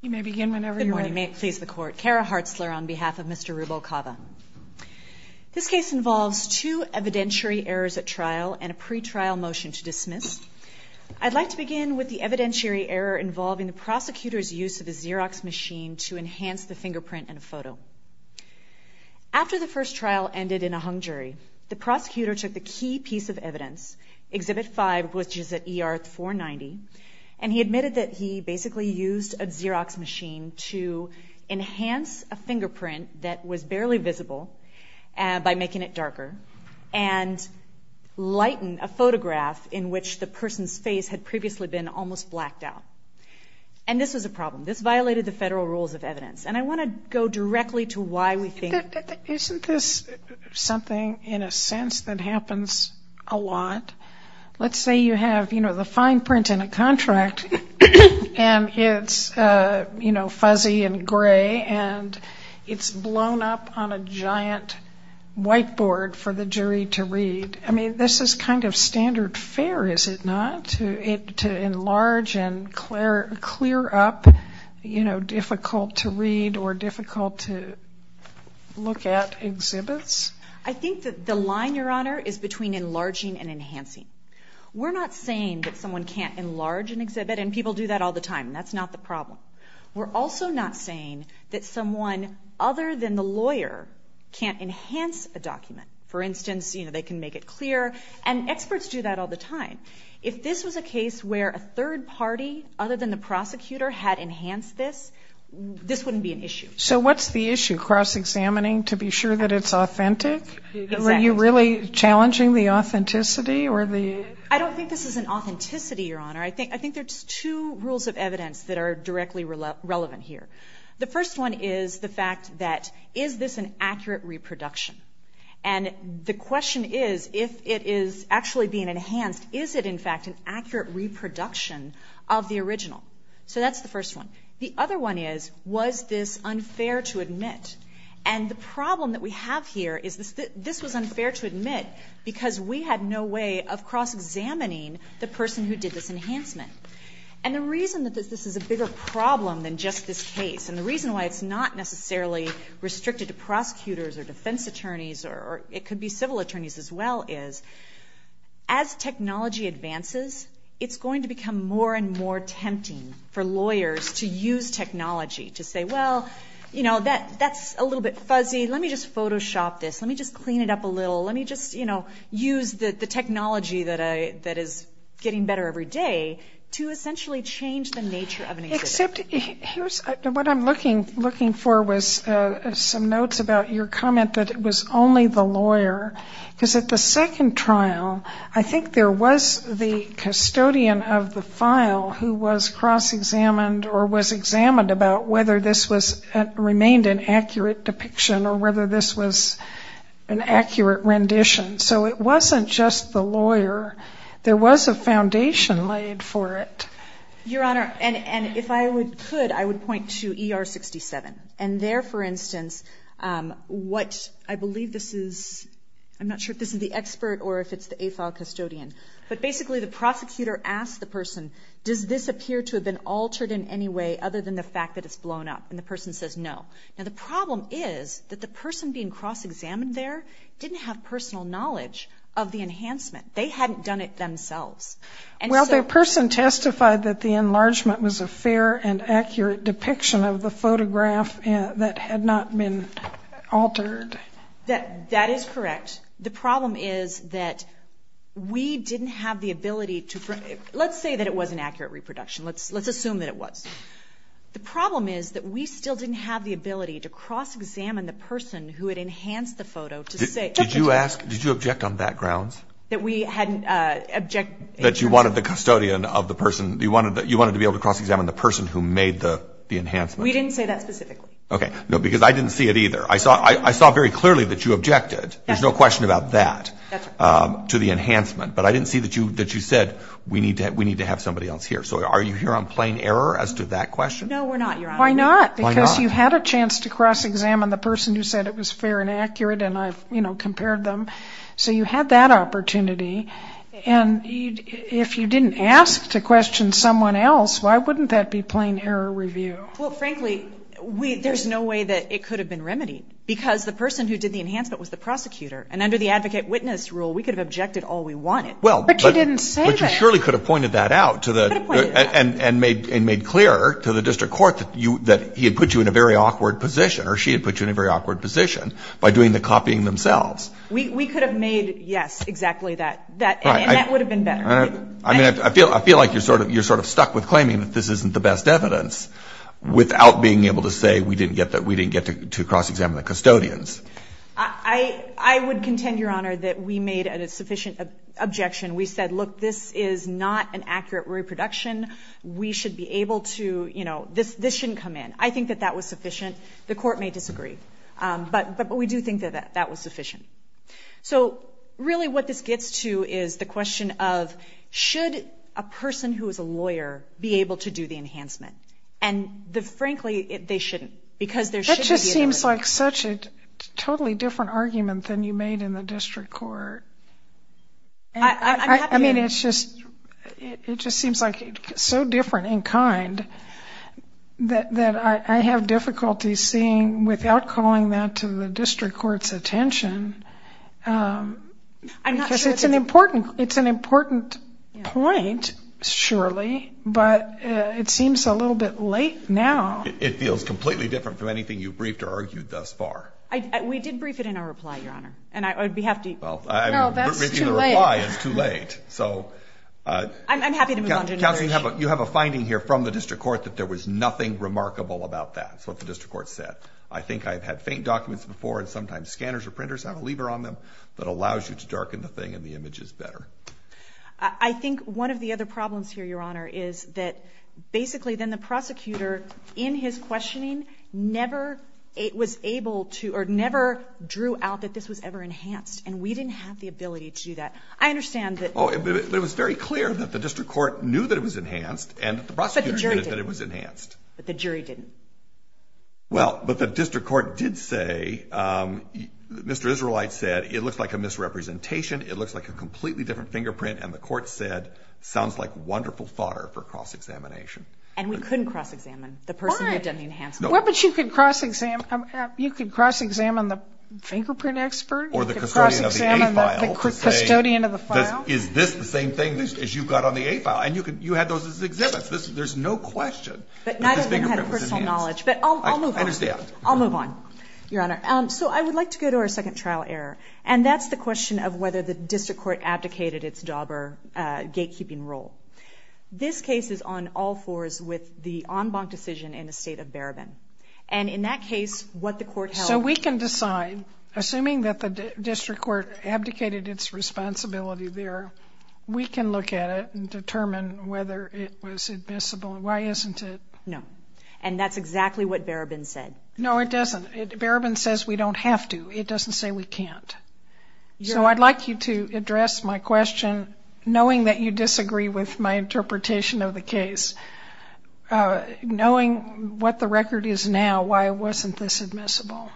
You may begin whenever you're ready. Good morning. May it please the Court. Kara Hartzler on behalf of Mr. Ruvalcaba. This case involves two evidentiary errors at trial and a pretrial motion to dismiss. I'd like to begin with the evidentiary error involving the prosecutor's use of a Xerox machine to enhance the fingerprint in a photo. After the first trial ended in a hung jury, the prosecutor took the key piece of evidence, Exhibit 5, which is at ER 490, and he admitted that he basically used a Xerox machine to enhance a fingerprint that was barely visible by making it darker and lighten a photograph in which the person's face had previously been almost blacked out. And this was a problem. This violated the federal rules of evidence. And I want to go directly to why we think... Isn't this something, in a sense, that happens a lot? Let's say you have, you know, the fine print in a contract and it's, you know, fuzzy and gray and it's blown up on a giant whiteboard for the jury to read. I mean, this is kind of standard fare, is it not, to enlarge and clear up, you know, difficult-to-read or difficult-to- We're not saying that someone can't enlarge an exhibit. And people do that all the time. That's not the problem. We're also not saying that someone other than the lawyer can't enhance a document. For instance, you know, they can make it clear. And experts do that all the time. If this was a case where a third party other than the prosecutor had enhanced this, this wouldn't be an issue. So what's the issue? Cross-examining to be sure that it's authentic? Were you really challenging the authenticity? I don't think this is an authenticity, Your Honor. I think there's two rules of evidence that are directly relevant here. The first one is the fact that, is this an accurate reproduction? And the question is, if it is actually being enhanced, is it in fact an accurate reproduction of the original? So that's the first one. The other one is, was this unfair to admit? And the problem that we have here is this was unfair to admit because we had no way of cross-examining the person who did this enhancement. And the reason that this is a bigger problem than just this case and the reason why it's not necessarily restricted to prosecutors or defense attorneys, or it could be civil attorneys as well, is as technology advances, it's going to become more and more tempting for lawyers to use technology to say, well, you know, that's a little bit fuzzy. Let me just Photoshop this. Let me just clean it up a little. Let me just use the technology that is getting better every day to essentially change the nature of an exhibit. Except, what I'm looking for was some notes about your comment that it was only the lawyer. Because at the second trial, I think there was the custodian of the file who was cross-examined or was examined about whether this remained an accurate depiction or whether this was an accurate rendition. So it wasn't just the lawyer. There was a foundation laid for it. Your Honor, and if I could, I would point to ER 67. And there, for instance, what I believe this is, I'm not sure if this is the expert or if it's the AFAL custodian, but basically the prosecutor asked the person, does this appear to have been the fact that it's blown up? And the person says no. Now the problem is that the person being cross-examined there didn't have personal knowledge of the enhancement. They hadn't done it themselves. Well, the person testified that the enlargement was a fair and accurate depiction of the photograph that had not been altered. That is correct. The problem is that we didn't have the ability to, let's say that it was an accurate reproduction. Let's assume that it was. The problem is that we still didn't have the ability to cross-examine the person who had enhanced the photo to say Did you object on that grounds? That we hadn't objected That you wanted the custodian of the person, you wanted to be able to cross-examine the person who made the enhancement? We didn't say that specifically. Okay. No, because I didn't see it either. I saw very clearly that you objected. There's no question about that. That's correct. To the enhancement. But I didn't see that you said We need to have somebody else here. So are you here on plain error as to that question? No, we're not, Your Honor. Why not? Because you had a chance to cross-examine the person who said it was fair and accurate and I've compared them. So you had that opportunity. And if you didn't ask to question someone else, why wouldn't that be plain error review? Well, frankly, there's no way that it could have been remedied. Because the person who did the enhancement was the prosecutor. And under the advocate witness rule, we could have objected all we wanted. But you didn't say that. But you surely could have pointed that out. And made clear to the district court that he had put you in a very awkward position or she had put you in a very awkward position by doing the copying themselves. We could have made, yes, exactly that. And that would have been better. I feel like you're sort of stuck with claiming that this isn't the best evidence without being able to say we didn't get to the point where we made a sufficient objection. We said, look, this is not an accurate reproduction. We should be able to, you know, this shouldn't come in. I think that that was sufficient. The court may disagree. But we do think that that was sufficient. So, really, what this gets to is the question of should a person who is a lawyer be able to do the enhancement? And, frankly, they shouldn't. Because there should be an amendment. It seems like such a totally different argument than you made in the district court. I mean, it's just, it just seems like so different in kind that I have difficulty seeing without calling that to the district court's attention. It's an important point, surely. But it seems a little bit late now. It feels completely different from anything you've briefed or argued thus far. We did brief it in our reply, Your Honor. No, that's too late. I'm happy to move on to another issue. You have a finding here from the district court that there was nothing remarkable about that. That's what the district court said. I think I've had faint documents before and sometimes scanners or printers have a lever on them that allows you to darken the thing and the image is better. I think one of the other problems here, Your Honor, is that basically then the prosecutor, in his questioning, never was able to, or never drew out that this was ever enhanced. And we didn't have the ability to do that. I understand that... It was very clear that the district court knew that it was enhanced and the prosecutor knew that it was enhanced. But the jury didn't. Well, but the district court did say, Mr. Israelite said, it looks like a misrepresentation. It looks like a completely different fingerprint. And the court said, sounds like wonderful fodder for cross-examination. And we couldn't cross-examine the person who had done the enhancement. Well, but you could cross-examine the fingerprint expert. Or the custodian of the A-file. Is this the same thing as you've got on the A-file? And you had those as exhibits. There's no question that this fingerprint was enhanced. I understand. I'll move on, Your Honor. So I would like to go to our second trial error. And that's the question of whether the district court abdicated its dauber gatekeeping role. This case is on all fours with the en banc decision in the state of Barabin. And in that case, what the court held... So we can decide, assuming that the district court abdicated its responsibility there, we can look at it and determine whether it was admissible. Why isn't it? No. And that's exactly what Barabin said. No, it doesn't. Barabin says we don't have to. It doesn't say we can't. So I'd like you to address my question, knowing that you disagree with my interpretation of the case. Knowing what the record is now, why wasn't this admissible?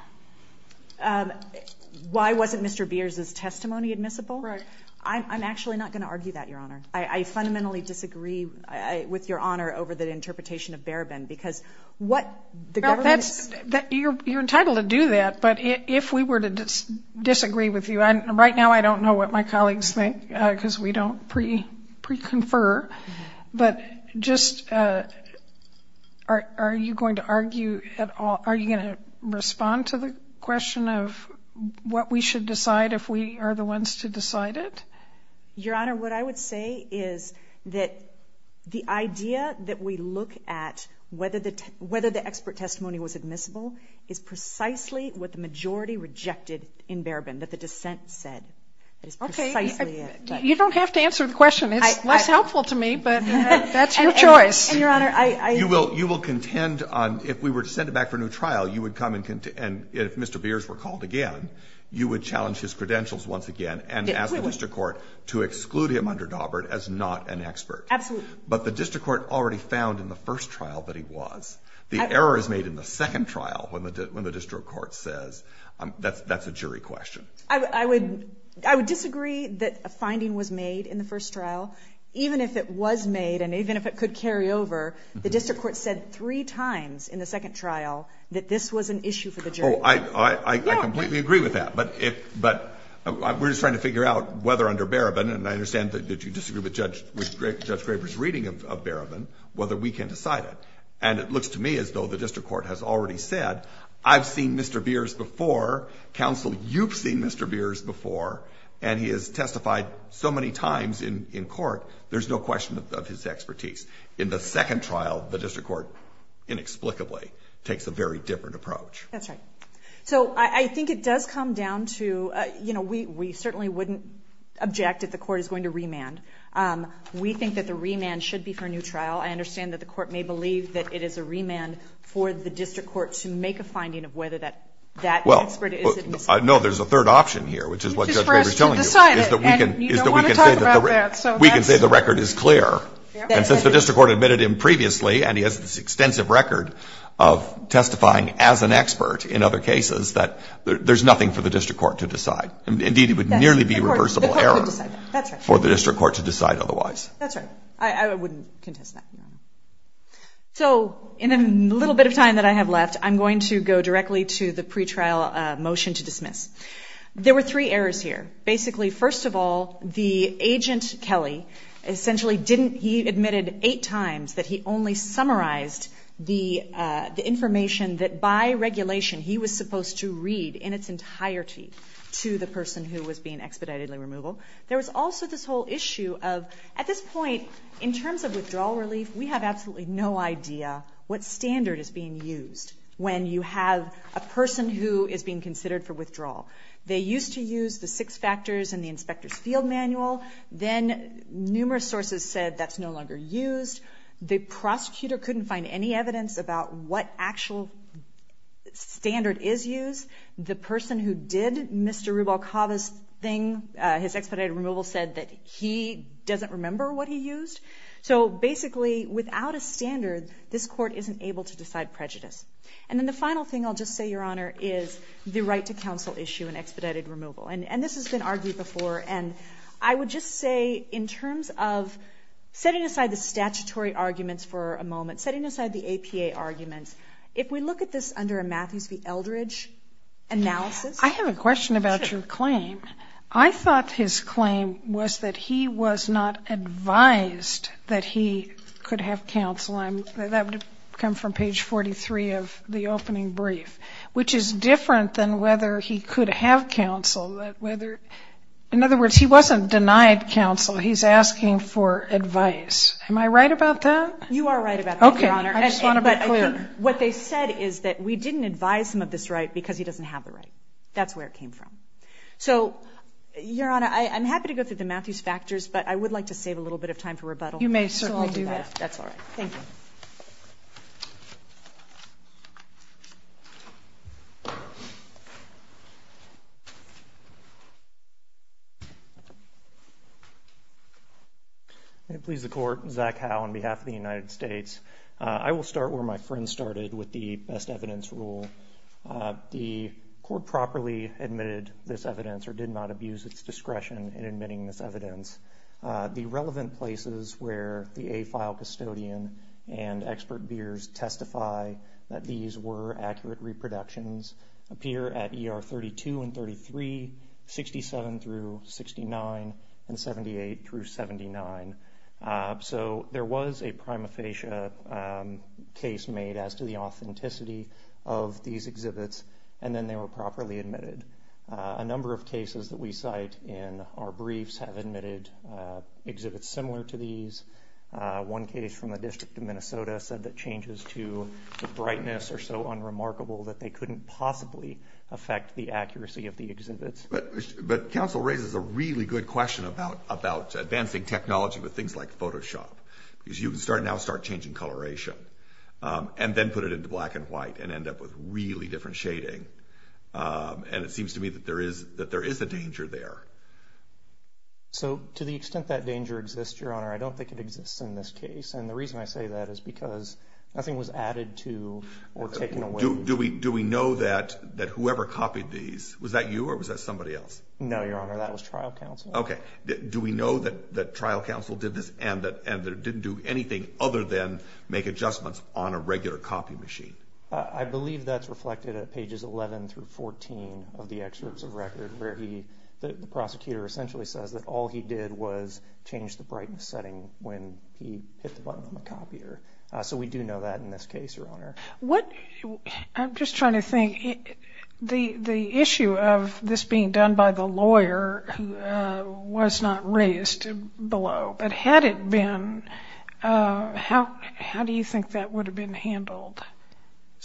Why wasn't Mr. Beers' testimony admissible? Right. I'm actually not going to argue that, Your Honor. I fundamentally disagree with Your Honor over the interpretation of Barabin because what the government... You're entitled to do that, but if we were to disagree with you, and right now I don't know what my colleagues think because we don't pre-confer, but just are you going to argue at all? Are you going to respond to the question of what we should decide if we are the ones to decide it? Your Honor, what I would say is that the idea that we look at whether the expert testimony was admissible is precisely what the majority rejected in Barabin, that the dissent said. Okay. You don't have to answer the question. It's less helpful to me, but that's your choice. And, Your Honor, I... Well, you will contend, if we were to send it back for a new trial, and if Mr. Beers were called again, you would challenge his credentials once again and ask the district court to exclude him under Daubert as not an expert. Absolutely. The error is made in the second trial when the district court says that's a jury question. I would disagree that a finding was made in the first trial, even if it was made and even if it could carry over, the district court said three times in the second trial that this was an issue for the jury. I completely agree with that, but we're just trying to figure out whether under Barabin, and I understand that you disagree with Judge Graber's reading of Barabin, whether we can decide it. And it looks to me as though the district court has already said, I've seen Mr. Beers before, counsel, you've seen Mr. Beers before, and he has testified so many times in court, there's no question of his expertise. In the second trial, the district court inexplicably takes a very different approach. So I think it does come down to, we certainly wouldn't object if the court is going to remand. We think that the remand should be for a new trial. I understand that the court may believe that it is a remand for the district court to make a finding of whether that expert is No, there's a third option here, which is what Judge Graber is telling you. And you don't want to talk about that. We can say the record is clear. And since the district court admitted him previously, and he has this extensive record of testifying as an expert in other cases, that there's nothing for the district court to decide. Indeed, it would nearly be a reversible error for the district court to decide otherwise. That's right. I wouldn't contest that. So, in the little bit of time that I have left, I'm going to go directly to the pretrial motion to dismiss. There were three errors here. Basically, first of all, the agent, Kelly, essentially didn't, he admitted eight times that he only summarized the information that by regulation he was supposed to read in its entirety to the person who was being expeditedly removal. There was also this whole issue of at this point, in terms of withdrawal relief, we have absolutely no idea what standard is being used when you have a person who is being considered for withdrawal. They used to use the six factors in the inspector's field manual. Then, numerous sources said that's no longer used. The prosecutor couldn't find any evidence about what actual standard is used. The person who did Mr. Rubalcava's thing, his expedited removal, said that he doesn't remember what he used. So, basically, without a standard, this court isn't able to decide prejudice. Then, the final thing, I'll just say, Your Honor, is the right to counsel issue and expedited removal. This has been argued before. I would just say in terms of setting aside the statutory arguments for a moment, setting aside the APA arguments, if we look at this under a Matthews v. Eldridge analysis. I have a question about your claim. I thought his claim was that he was not advised that he could have counsel. That would come from page 43 of the opening brief, which is different than whether he could have counsel. In other words, he wasn't denied counsel. He's asking for advice. Am I right about that? You are right about that, Your Honor. I just want to be clear. What they said is that we didn't advise him of this right because he doesn't have the right. That's where it came from. So, Your Honor, I'm happy to go through the Matthews factors, but I would like to save a little bit of time for rebuttal. You may certainly do that. That's all right. Thank you. May it please the Court, Zach Howe on behalf of the United States. I will start where my friend started with the best evidence rule. The Court properly admitted this evidence or did not abuse its discretion in admitting this evidence. The relevant places where the AFILE custodian and expert beers testify that these were accurate reproductions appear at ER 32 and 33, 67 through 69, and 78 through 79. So, there was a prima facie case made as to the authenticity of these exhibits and then they were properly admitted. A number of cases that we cite in our briefs have admitted exhibits similar to these. One case from the District of Minnesota said that changes to brightness are so unremarkable that they couldn't possibly affect the accuracy of the exhibits. But counsel raises a really good question about advancing technology with things like Photoshop. You can now start changing coloration and then put it into black and white and end up with really different shading. And it seems to me that there is a danger there. So, to the extent that danger exists, Your Honor, I don't think it exists in this case. And the reason I say that is because nothing was added to or taken away. Do we know that whoever copied these, was that you or was that somebody else? No, Your Honor, that was trial counsel. Okay. Do we know that trial counsel did this and didn't do anything other than make adjustments 11 through 14 of the excerpts of record where the prosecutor essentially says that all he did was change the brightness setting when he hit the button on the copier. So we do know that in this case, Your Honor. I'm just trying to think. The issue of this being done by the lawyer was not raised below. But had it been, how do you think that would have been handled?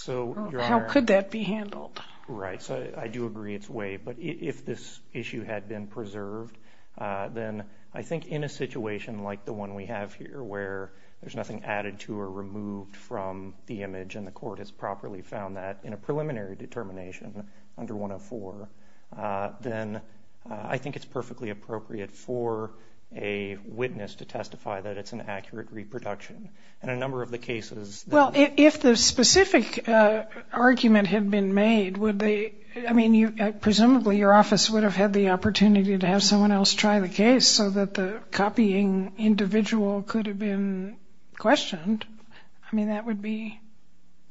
How could that be handled? Right. So I do agree it's way. But if this issue had been preserved, then I think in a situation like the one we have here where there's nothing added to or removed from the image and the court has properly found that in a preliminary determination under 104, then I think it's perfectly appropriate for a witness to testify that it's an accurate reproduction. In a number of the cases. Well, if the specific argument had been made, presumably your office would have had the opportunity to have someone else try the case so that the copying individual could have been questioned. I mean, that would be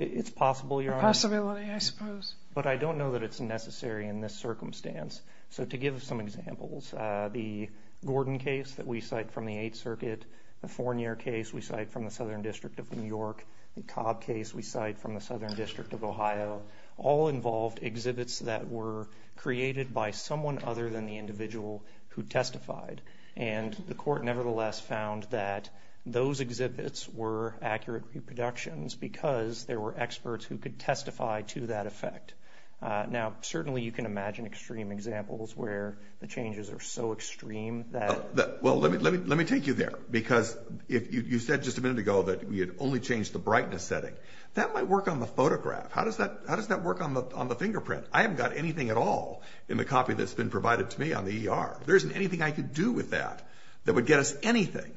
a possibility, I suppose. But I don't know that it's necessary in this circumstance. So to give some examples, the Gordon case that we cite from the Eighth Circuit, the Fournier case we cite from the Southern District of New York, the Cobb case we cite from the Southern District of Ohio, all involved exhibits that were created by someone other than the individual who testified. And the court nevertheless found that those exhibits were accurate reproductions because there were experts who could testify to that effect. Now, certainly you can imagine extreme examples where the changes are so extreme that Well, let me take you there. Because you said just a minute ago that we had only changed the brightness setting. That might work on the photograph. How does that work on the fingerprint? I haven't got anything at all in the copy that's been provided to me on the ER. There isn't anything I could do with that that would get us anything.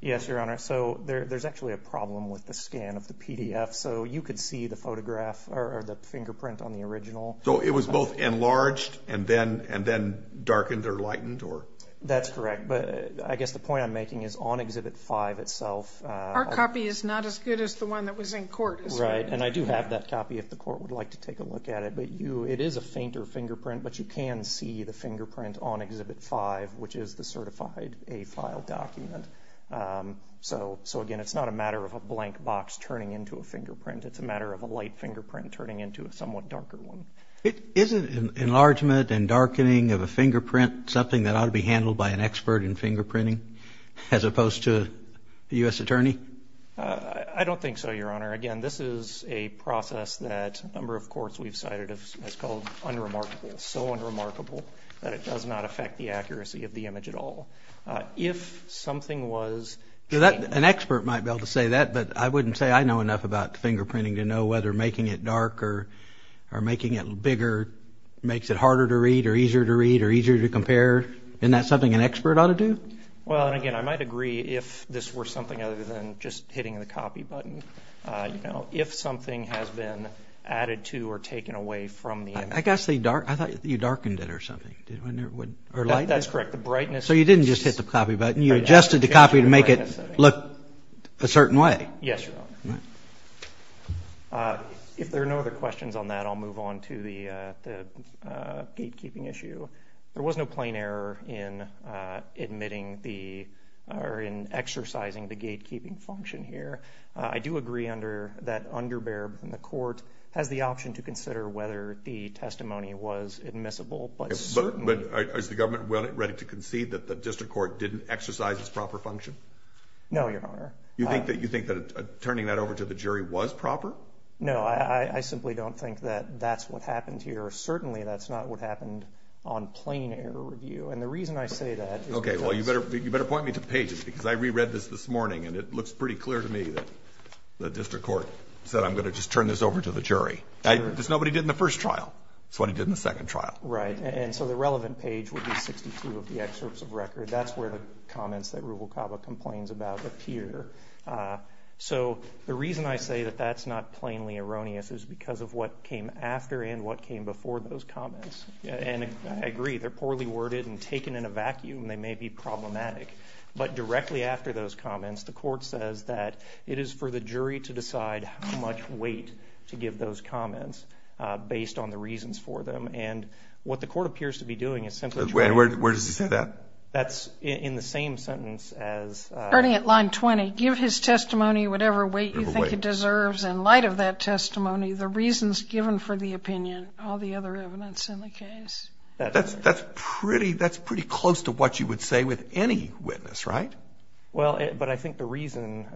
Yes, Your Honor. So there's actually a problem with the scan of the PDF. So you could see the photograph or the fingerprint on the original. So it was both enlarged and then darkened or either lightened. That's correct. But I guess the point I'm making is on Exhibit 5 itself. Our copy is not as good as the one that was in court. Right. And I do have that copy if the court would like to take a look at it. But it is a fainter fingerprint. But you can see the fingerprint on Exhibit 5 which is the certified AFILE document. So again, it's not a matter of a blank box turning into a fingerprint. It's a matter of a light fingerprint turning into a somewhat darker one. Isn't enlargement and darkening of a fingerprint something that ought to be handled by an expert in fingerprinting as opposed to a U.S. attorney? I don't think so, Your Honor. Again, this is a process that a number of courts we've cited as called unremarkable. So unremarkable that it does not affect the accuracy of the image at all. If something was... An expert might be able to say that, but I wouldn't say I know enough about fingerprinting to know whether making it darker or making it bigger makes it harder to read or easier to read or easier to compare. Isn't that something an expert ought to do? Well, and again, I might agree if this were something other than just hitting the copy button. If something has been added to or taken away from the image... I thought you darkened it or something. That's correct. The brightness... So you didn't just hit the copy button. You adjusted the copy to make it look a certain way. Yes, Your Honor. If there are no other questions on that, I'll move on to the gatekeeping issue. There was no plain error in admitting the... or in exercising the gatekeeping function here. I do agree under that underbear in the court has the option to consider whether the testimony was admissible, but certainly... But is the government ready to concede that the district court didn't exercise its proper function? No, Your Honor. You think that turning that over to the jury was proper? No, I simply don't think that that's what happened here. Certainly, that's not what happened on plain error review. And the reason I say that is because... Okay, well, you better point me to pages because I reread this this morning and it looks pretty clear to me that the district court said, I'm going to just turn this over to the jury. Because nobody did in the first trial. That's what he did in the second trial. Right. And so the relevant page would be 62 of the excerpts of record. That's where the comments that came after. So the reason I say that that's not plainly erroneous is because of what came after and what came before those comments. And I agree, they're poorly worded and taken in a vacuum. They may be problematic. But directly after those comments, the court says that it is for the jury to decide how much weight to give those comments based on the reasons for them. And what the court appears to be doing is simply... And where does he say that? That's in the same sentence as... Starting at line 20, give his testimony whatever weight you think he deserves. In light of that testimony, the reasons given for the opinion are the other evidence in the case. That's pretty close to what you would say with any witness, right? But I think the reason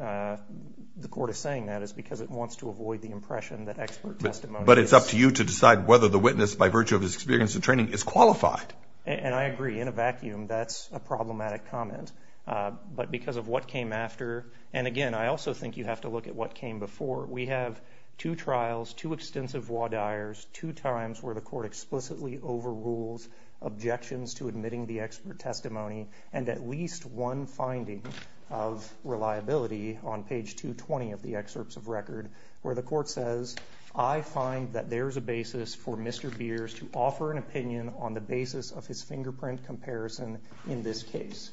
the court is saying that is because it wants to avoid the impression that expert testimony... But it's up to you to decide whether the witness, by virtue of his experience and training, is qualified. And I agree. In a vacuum, that's a problematic comment. But because of what came after... And again, I also think you have to look at what came before. We have two trials, two extensive voir dires, two times where the court explicitly overrules objections to admitting the expert testimony, and at least one finding of reliability on page 220 of the excerpts of record, where the court says, I find that there's a basis for Mr. Beers to offer an opinion on the basis of his fingerprint comparison in this case.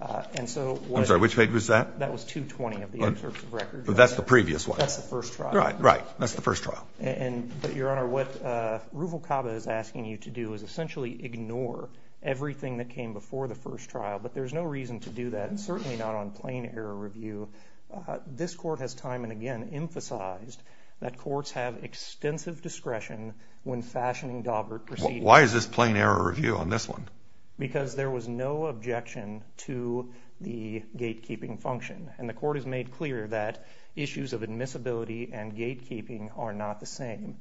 I'm sorry, which page was that? That was 220 of the excerpts of record. But that's the previous one. That's the first trial. Right, that's the first trial. But Your Honor, what Ruvalcaba is asking you to do is essentially ignore everything that came before the first trial. But there's no reason to do that, and certainly not on plain error review. This court has time and again emphasized that courts have extensive discretion when fashioning Daubert proceedings. Why is this plain error review on this one? Because there was no objection to the gatekeeping function. And the court has made clear that issues of admissibility and gatekeeping are not the same.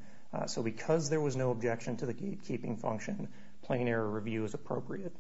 So because there was no objection to the gatekeeping function, plain error review is appropriate.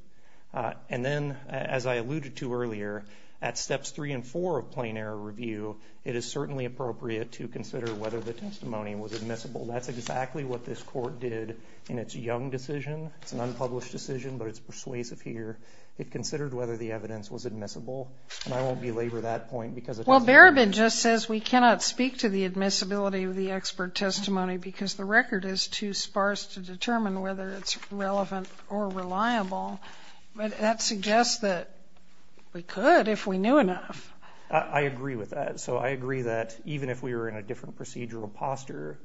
And then, as I alluded to earlier, at steps three and four of plain error review, it is certainly appropriate to consider whether the testimony was admissible. That's exactly what this court did in its Young decision. It's an unpublished decision, but it's persuasive here. It considered whether the evidence was admissible. And I won't belabor that point because it doesn't... Well, Barabin just says we cannot speak to the admissibility of the expert testimony because the record is too sparse to determine whether it's relevant or reliable. But that suggests that we could if we knew enough. I agree with that. So I agree that even if we were in a different procedural posture,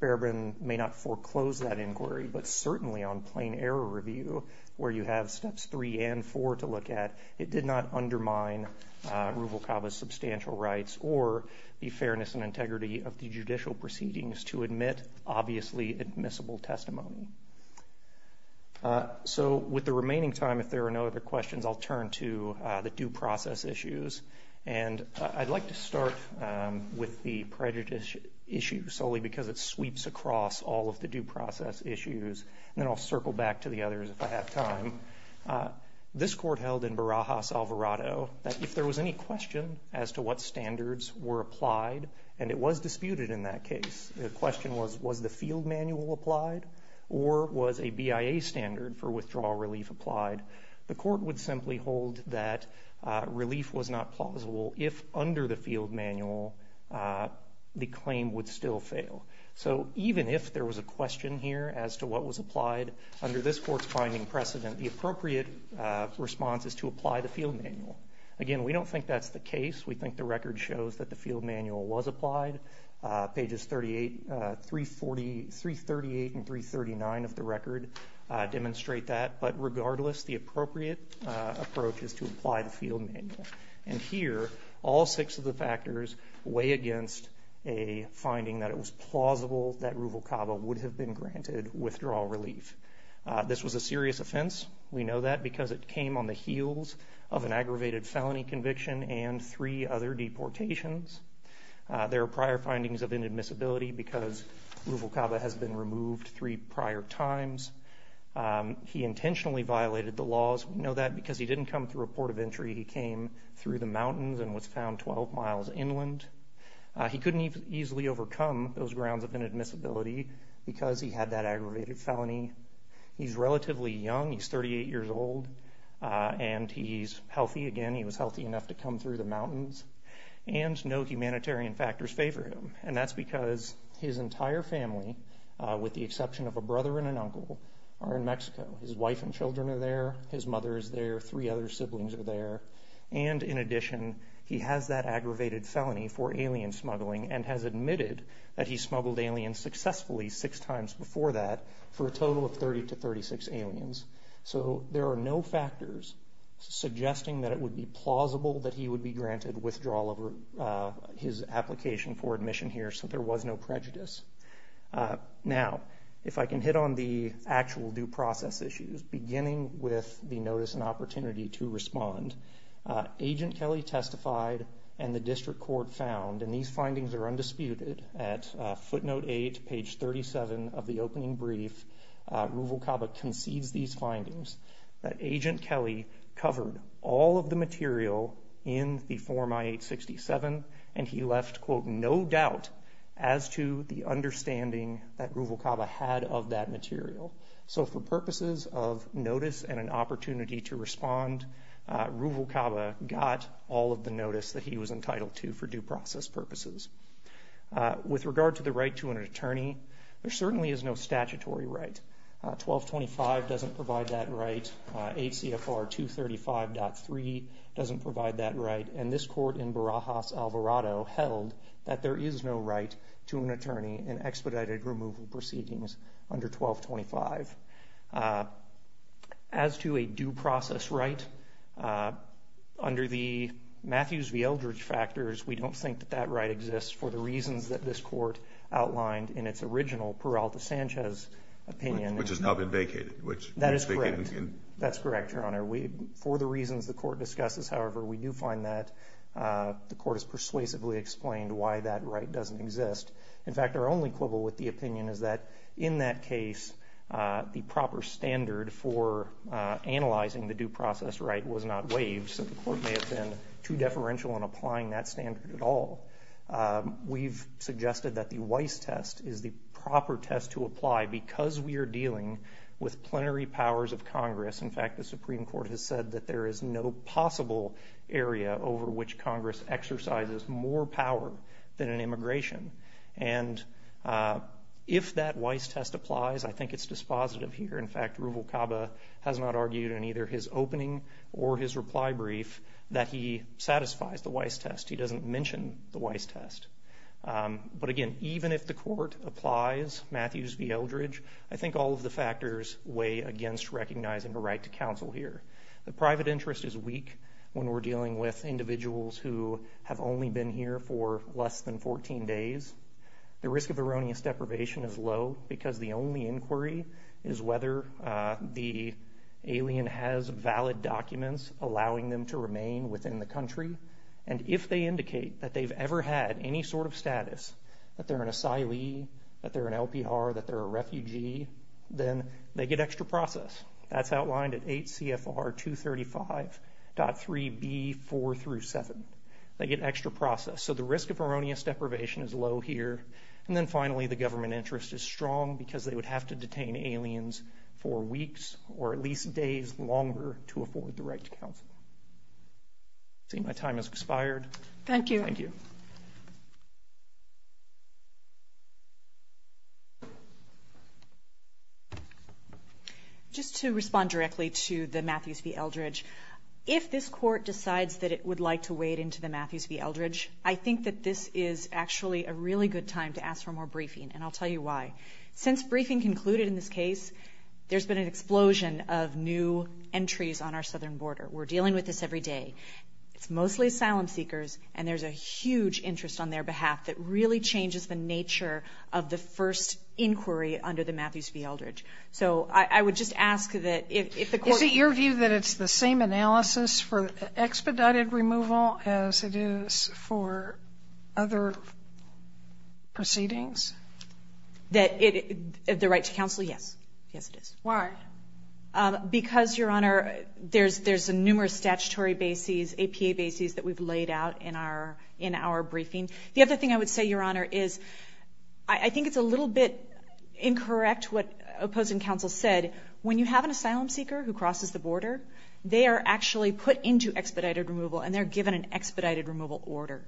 Barabin may not foreclose that inquiry. But certainly on plain error review, where you have steps three and four to look at, it did not undermine Ruvalcaba's substantial rights or the fairness and integrity of the judicial proceedings to admit obviously admissible testimony. So with the remaining time, if there are no other questions, I'll turn to the due process issues. And I'd like to start with the prejudice issue solely because it sweeps across all of the due process issues. And then I'll circle back to the others if I have time. This court held in Barajas-Alvarado that if there was any question as to what standards were applied, and it was disputed in that case, the question was, was the field manual applied or was a BIA standard for withdrawal relief applied? The court would simply hold that relief was not plausible if under the field manual, the claim would still fail. So even if there was a question here as to what was applied under this court's finding precedent, the appropriate response is to apply the field manual. Again, we don't think that's the case. We think the record shows that the field manual was applied. Pages 38, 338 and 339 of the record demonstrate that. But regardless, the appropriate approach is to apply the field manual. And here, all six of the factors weigh against a finding that it was plausible that Ruvalcaba would have been granted withdrawal relief. This was a serious offense. We know that because it came on the heels of an aggravated felony conviction and three other deportations. There are prior findings of inadmissibility because Ruvalcaba has been removed three prior times. He intentionally violated the laws. We know that because he didn't come through a port of entry. He came through the mountains and was found 12 miles inland. He couldn't easily overcome those grounds of inadmissibility because he had that aggravated felony. He's relatively young. He's 38 years old. And he's healthy again. He was healthy enough to come through the mountains. And no humanitarian factors favor him. And that's because his entire family, with the exception of a brother and an uncle, are in Mexico. His wife and three other siblings are there. And in addition, he has that aggravated felony for alien smuggling and has admitted that he smuggled aliens successfully six times before that for a total of 30 to 36 aliens. So there are no factors suggesting that it would be plausible that he would be granted withdrawal over his application for admission here. So there was no prejudice. Now, if I can hit on the actual due process issues, beginning with the notice and opportunity to respond, Agent Kelly testified and the district court found, and these findings are undisputed, at footnote 8, page 37 of the opening brief, Ruvalcaba concedes these findings, that Agent Kelly covered all of the material in the form I-867, and he left, quote, no doubt as to the understanding that Ruvalcaba had of that material. So for purposes of notice and an opportunity to respond, Ruvalcaba got all of the notice that he was entitled to for due process purposes. With regard to the right to an attorney, there certainly is no statutory right. 1225 doesn't provide that right. 8 CFR 235.3 doesn't provide that right. And this court in Barajas, Alvarado held that there is no right to an attorney in expedited removal proceedings under 1225. As to a due process right, under the Matthews v. Eldredge factors, we don't think that that right exists for the reasons that this court outlined in its original Peralta Sanchez opinion. Which has now been vacated. That is correct, Your Honor. For the reasons the court discusses, however, we do find that the court has persuasively explained why that right doesn't exist. In fact, our only quibble with the opinion is that in that case the proper standard for analyzing the due process right was not waived. So the court may have been too deferential in applying that standard at all. We've suggested that the Weiss test is the proper test to apply because we are dealing with plenary powers of Congress. In fact, the Supreme Court has said that there is no possible area over which Congress exercises more power than in immigration. And if that Weiss test applies, I think it's dispositive here. In fact, Ruvalcaba has not argued in either his opening or his reply brief that he satisfies the Weiss test. He doesn't mention the Weiss test. But again, even if the court applies Matthews v. Eldredge I think all of the factors weigh against recognizing the right to counsel here. The private interest is weak when we're dealing with individuals who have only been here for less than 14 days. The risk of erroneous deprivation is low because the only inquiry is whether the alien has valid documents allowing them to remain within the country. And if they indicate that they've ever had any sort of status, that they're an asylee, that they're an LPR, that they're a refugee, then they get extra process. That's outlined at 8 CFR 235.3 AB 4 through 7. They get extra process. So the risk of erroneous deprivation is low here. And then finally, the government interest is strong because they would have to detain aliens for weeks or at least days longer to afford the right to counsel. I see my time has expired. Thank you. Just to respond directly to the Matthews v. Eldredge if this court decides that it would like to weigh it into the Matthews v. Eldredge I think that this is actually a really good time to ask for more briefing and I'll tell you why. Since briefing concluded in this case, there's been an explosion of new entries on our southern border. We're dealing with this every day. It's mostly asylum seekers and there's a huge interest on their behalf that really changes the nature of the first inquiry under the Matthews v. Eldredge. So I would just ask that if the court... Is it your view that it's the same analysis for expedited removal as it is for other proceedings? The right to counsel? Yes. Yes it is. Why? Because, Your Honor, there's numerous statutory bases, APA bases that we've laid out in our briefing. The other thing I would say, Your Honor, is I think it's a little bit incorrect what opposing counsel said. When you have an asylum seeker who crosses the border, they are actually put into expedited removal and they're given an expedited removal order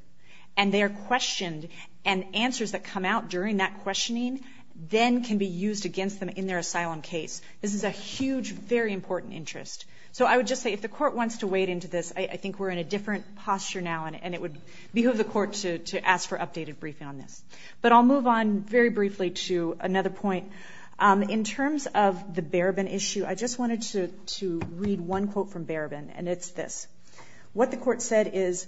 and they are questioned and answers that come out during that questioning then can be used against them in their asylum case. This is a huge, very important interest. So I would just say if the court wants to weigh it into this, I think we're in a different posture now and it would behoove the court to ask for updated briefing on this. But I'll move on very briefly to another point. In terms of the Barabin issue, I just wanted to read one quote from Barabin and it's this. What the court said is,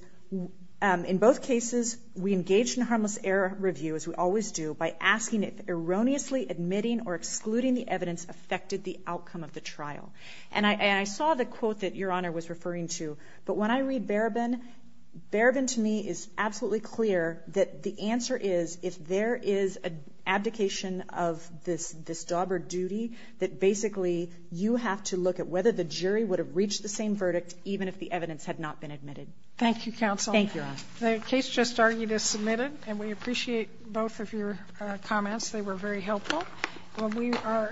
in both cases, we engage in harmless error review, as we always do, by asking if erroneously admitting or excluding the evidence affected the outcome of the trial. And I saw the quote that Your Honor was referring to, but when I read Barabin, Barabin to me is absolutely clear that the answer is if there is an abdication of this job or duty that basically you have to look at whether the jury would have reached the same verdict even if the evidence had not been admitted. Thank you, counsel. The case just argued is submitted and we appreciate both of your comments. They were very helpful. Well, we are adjourned.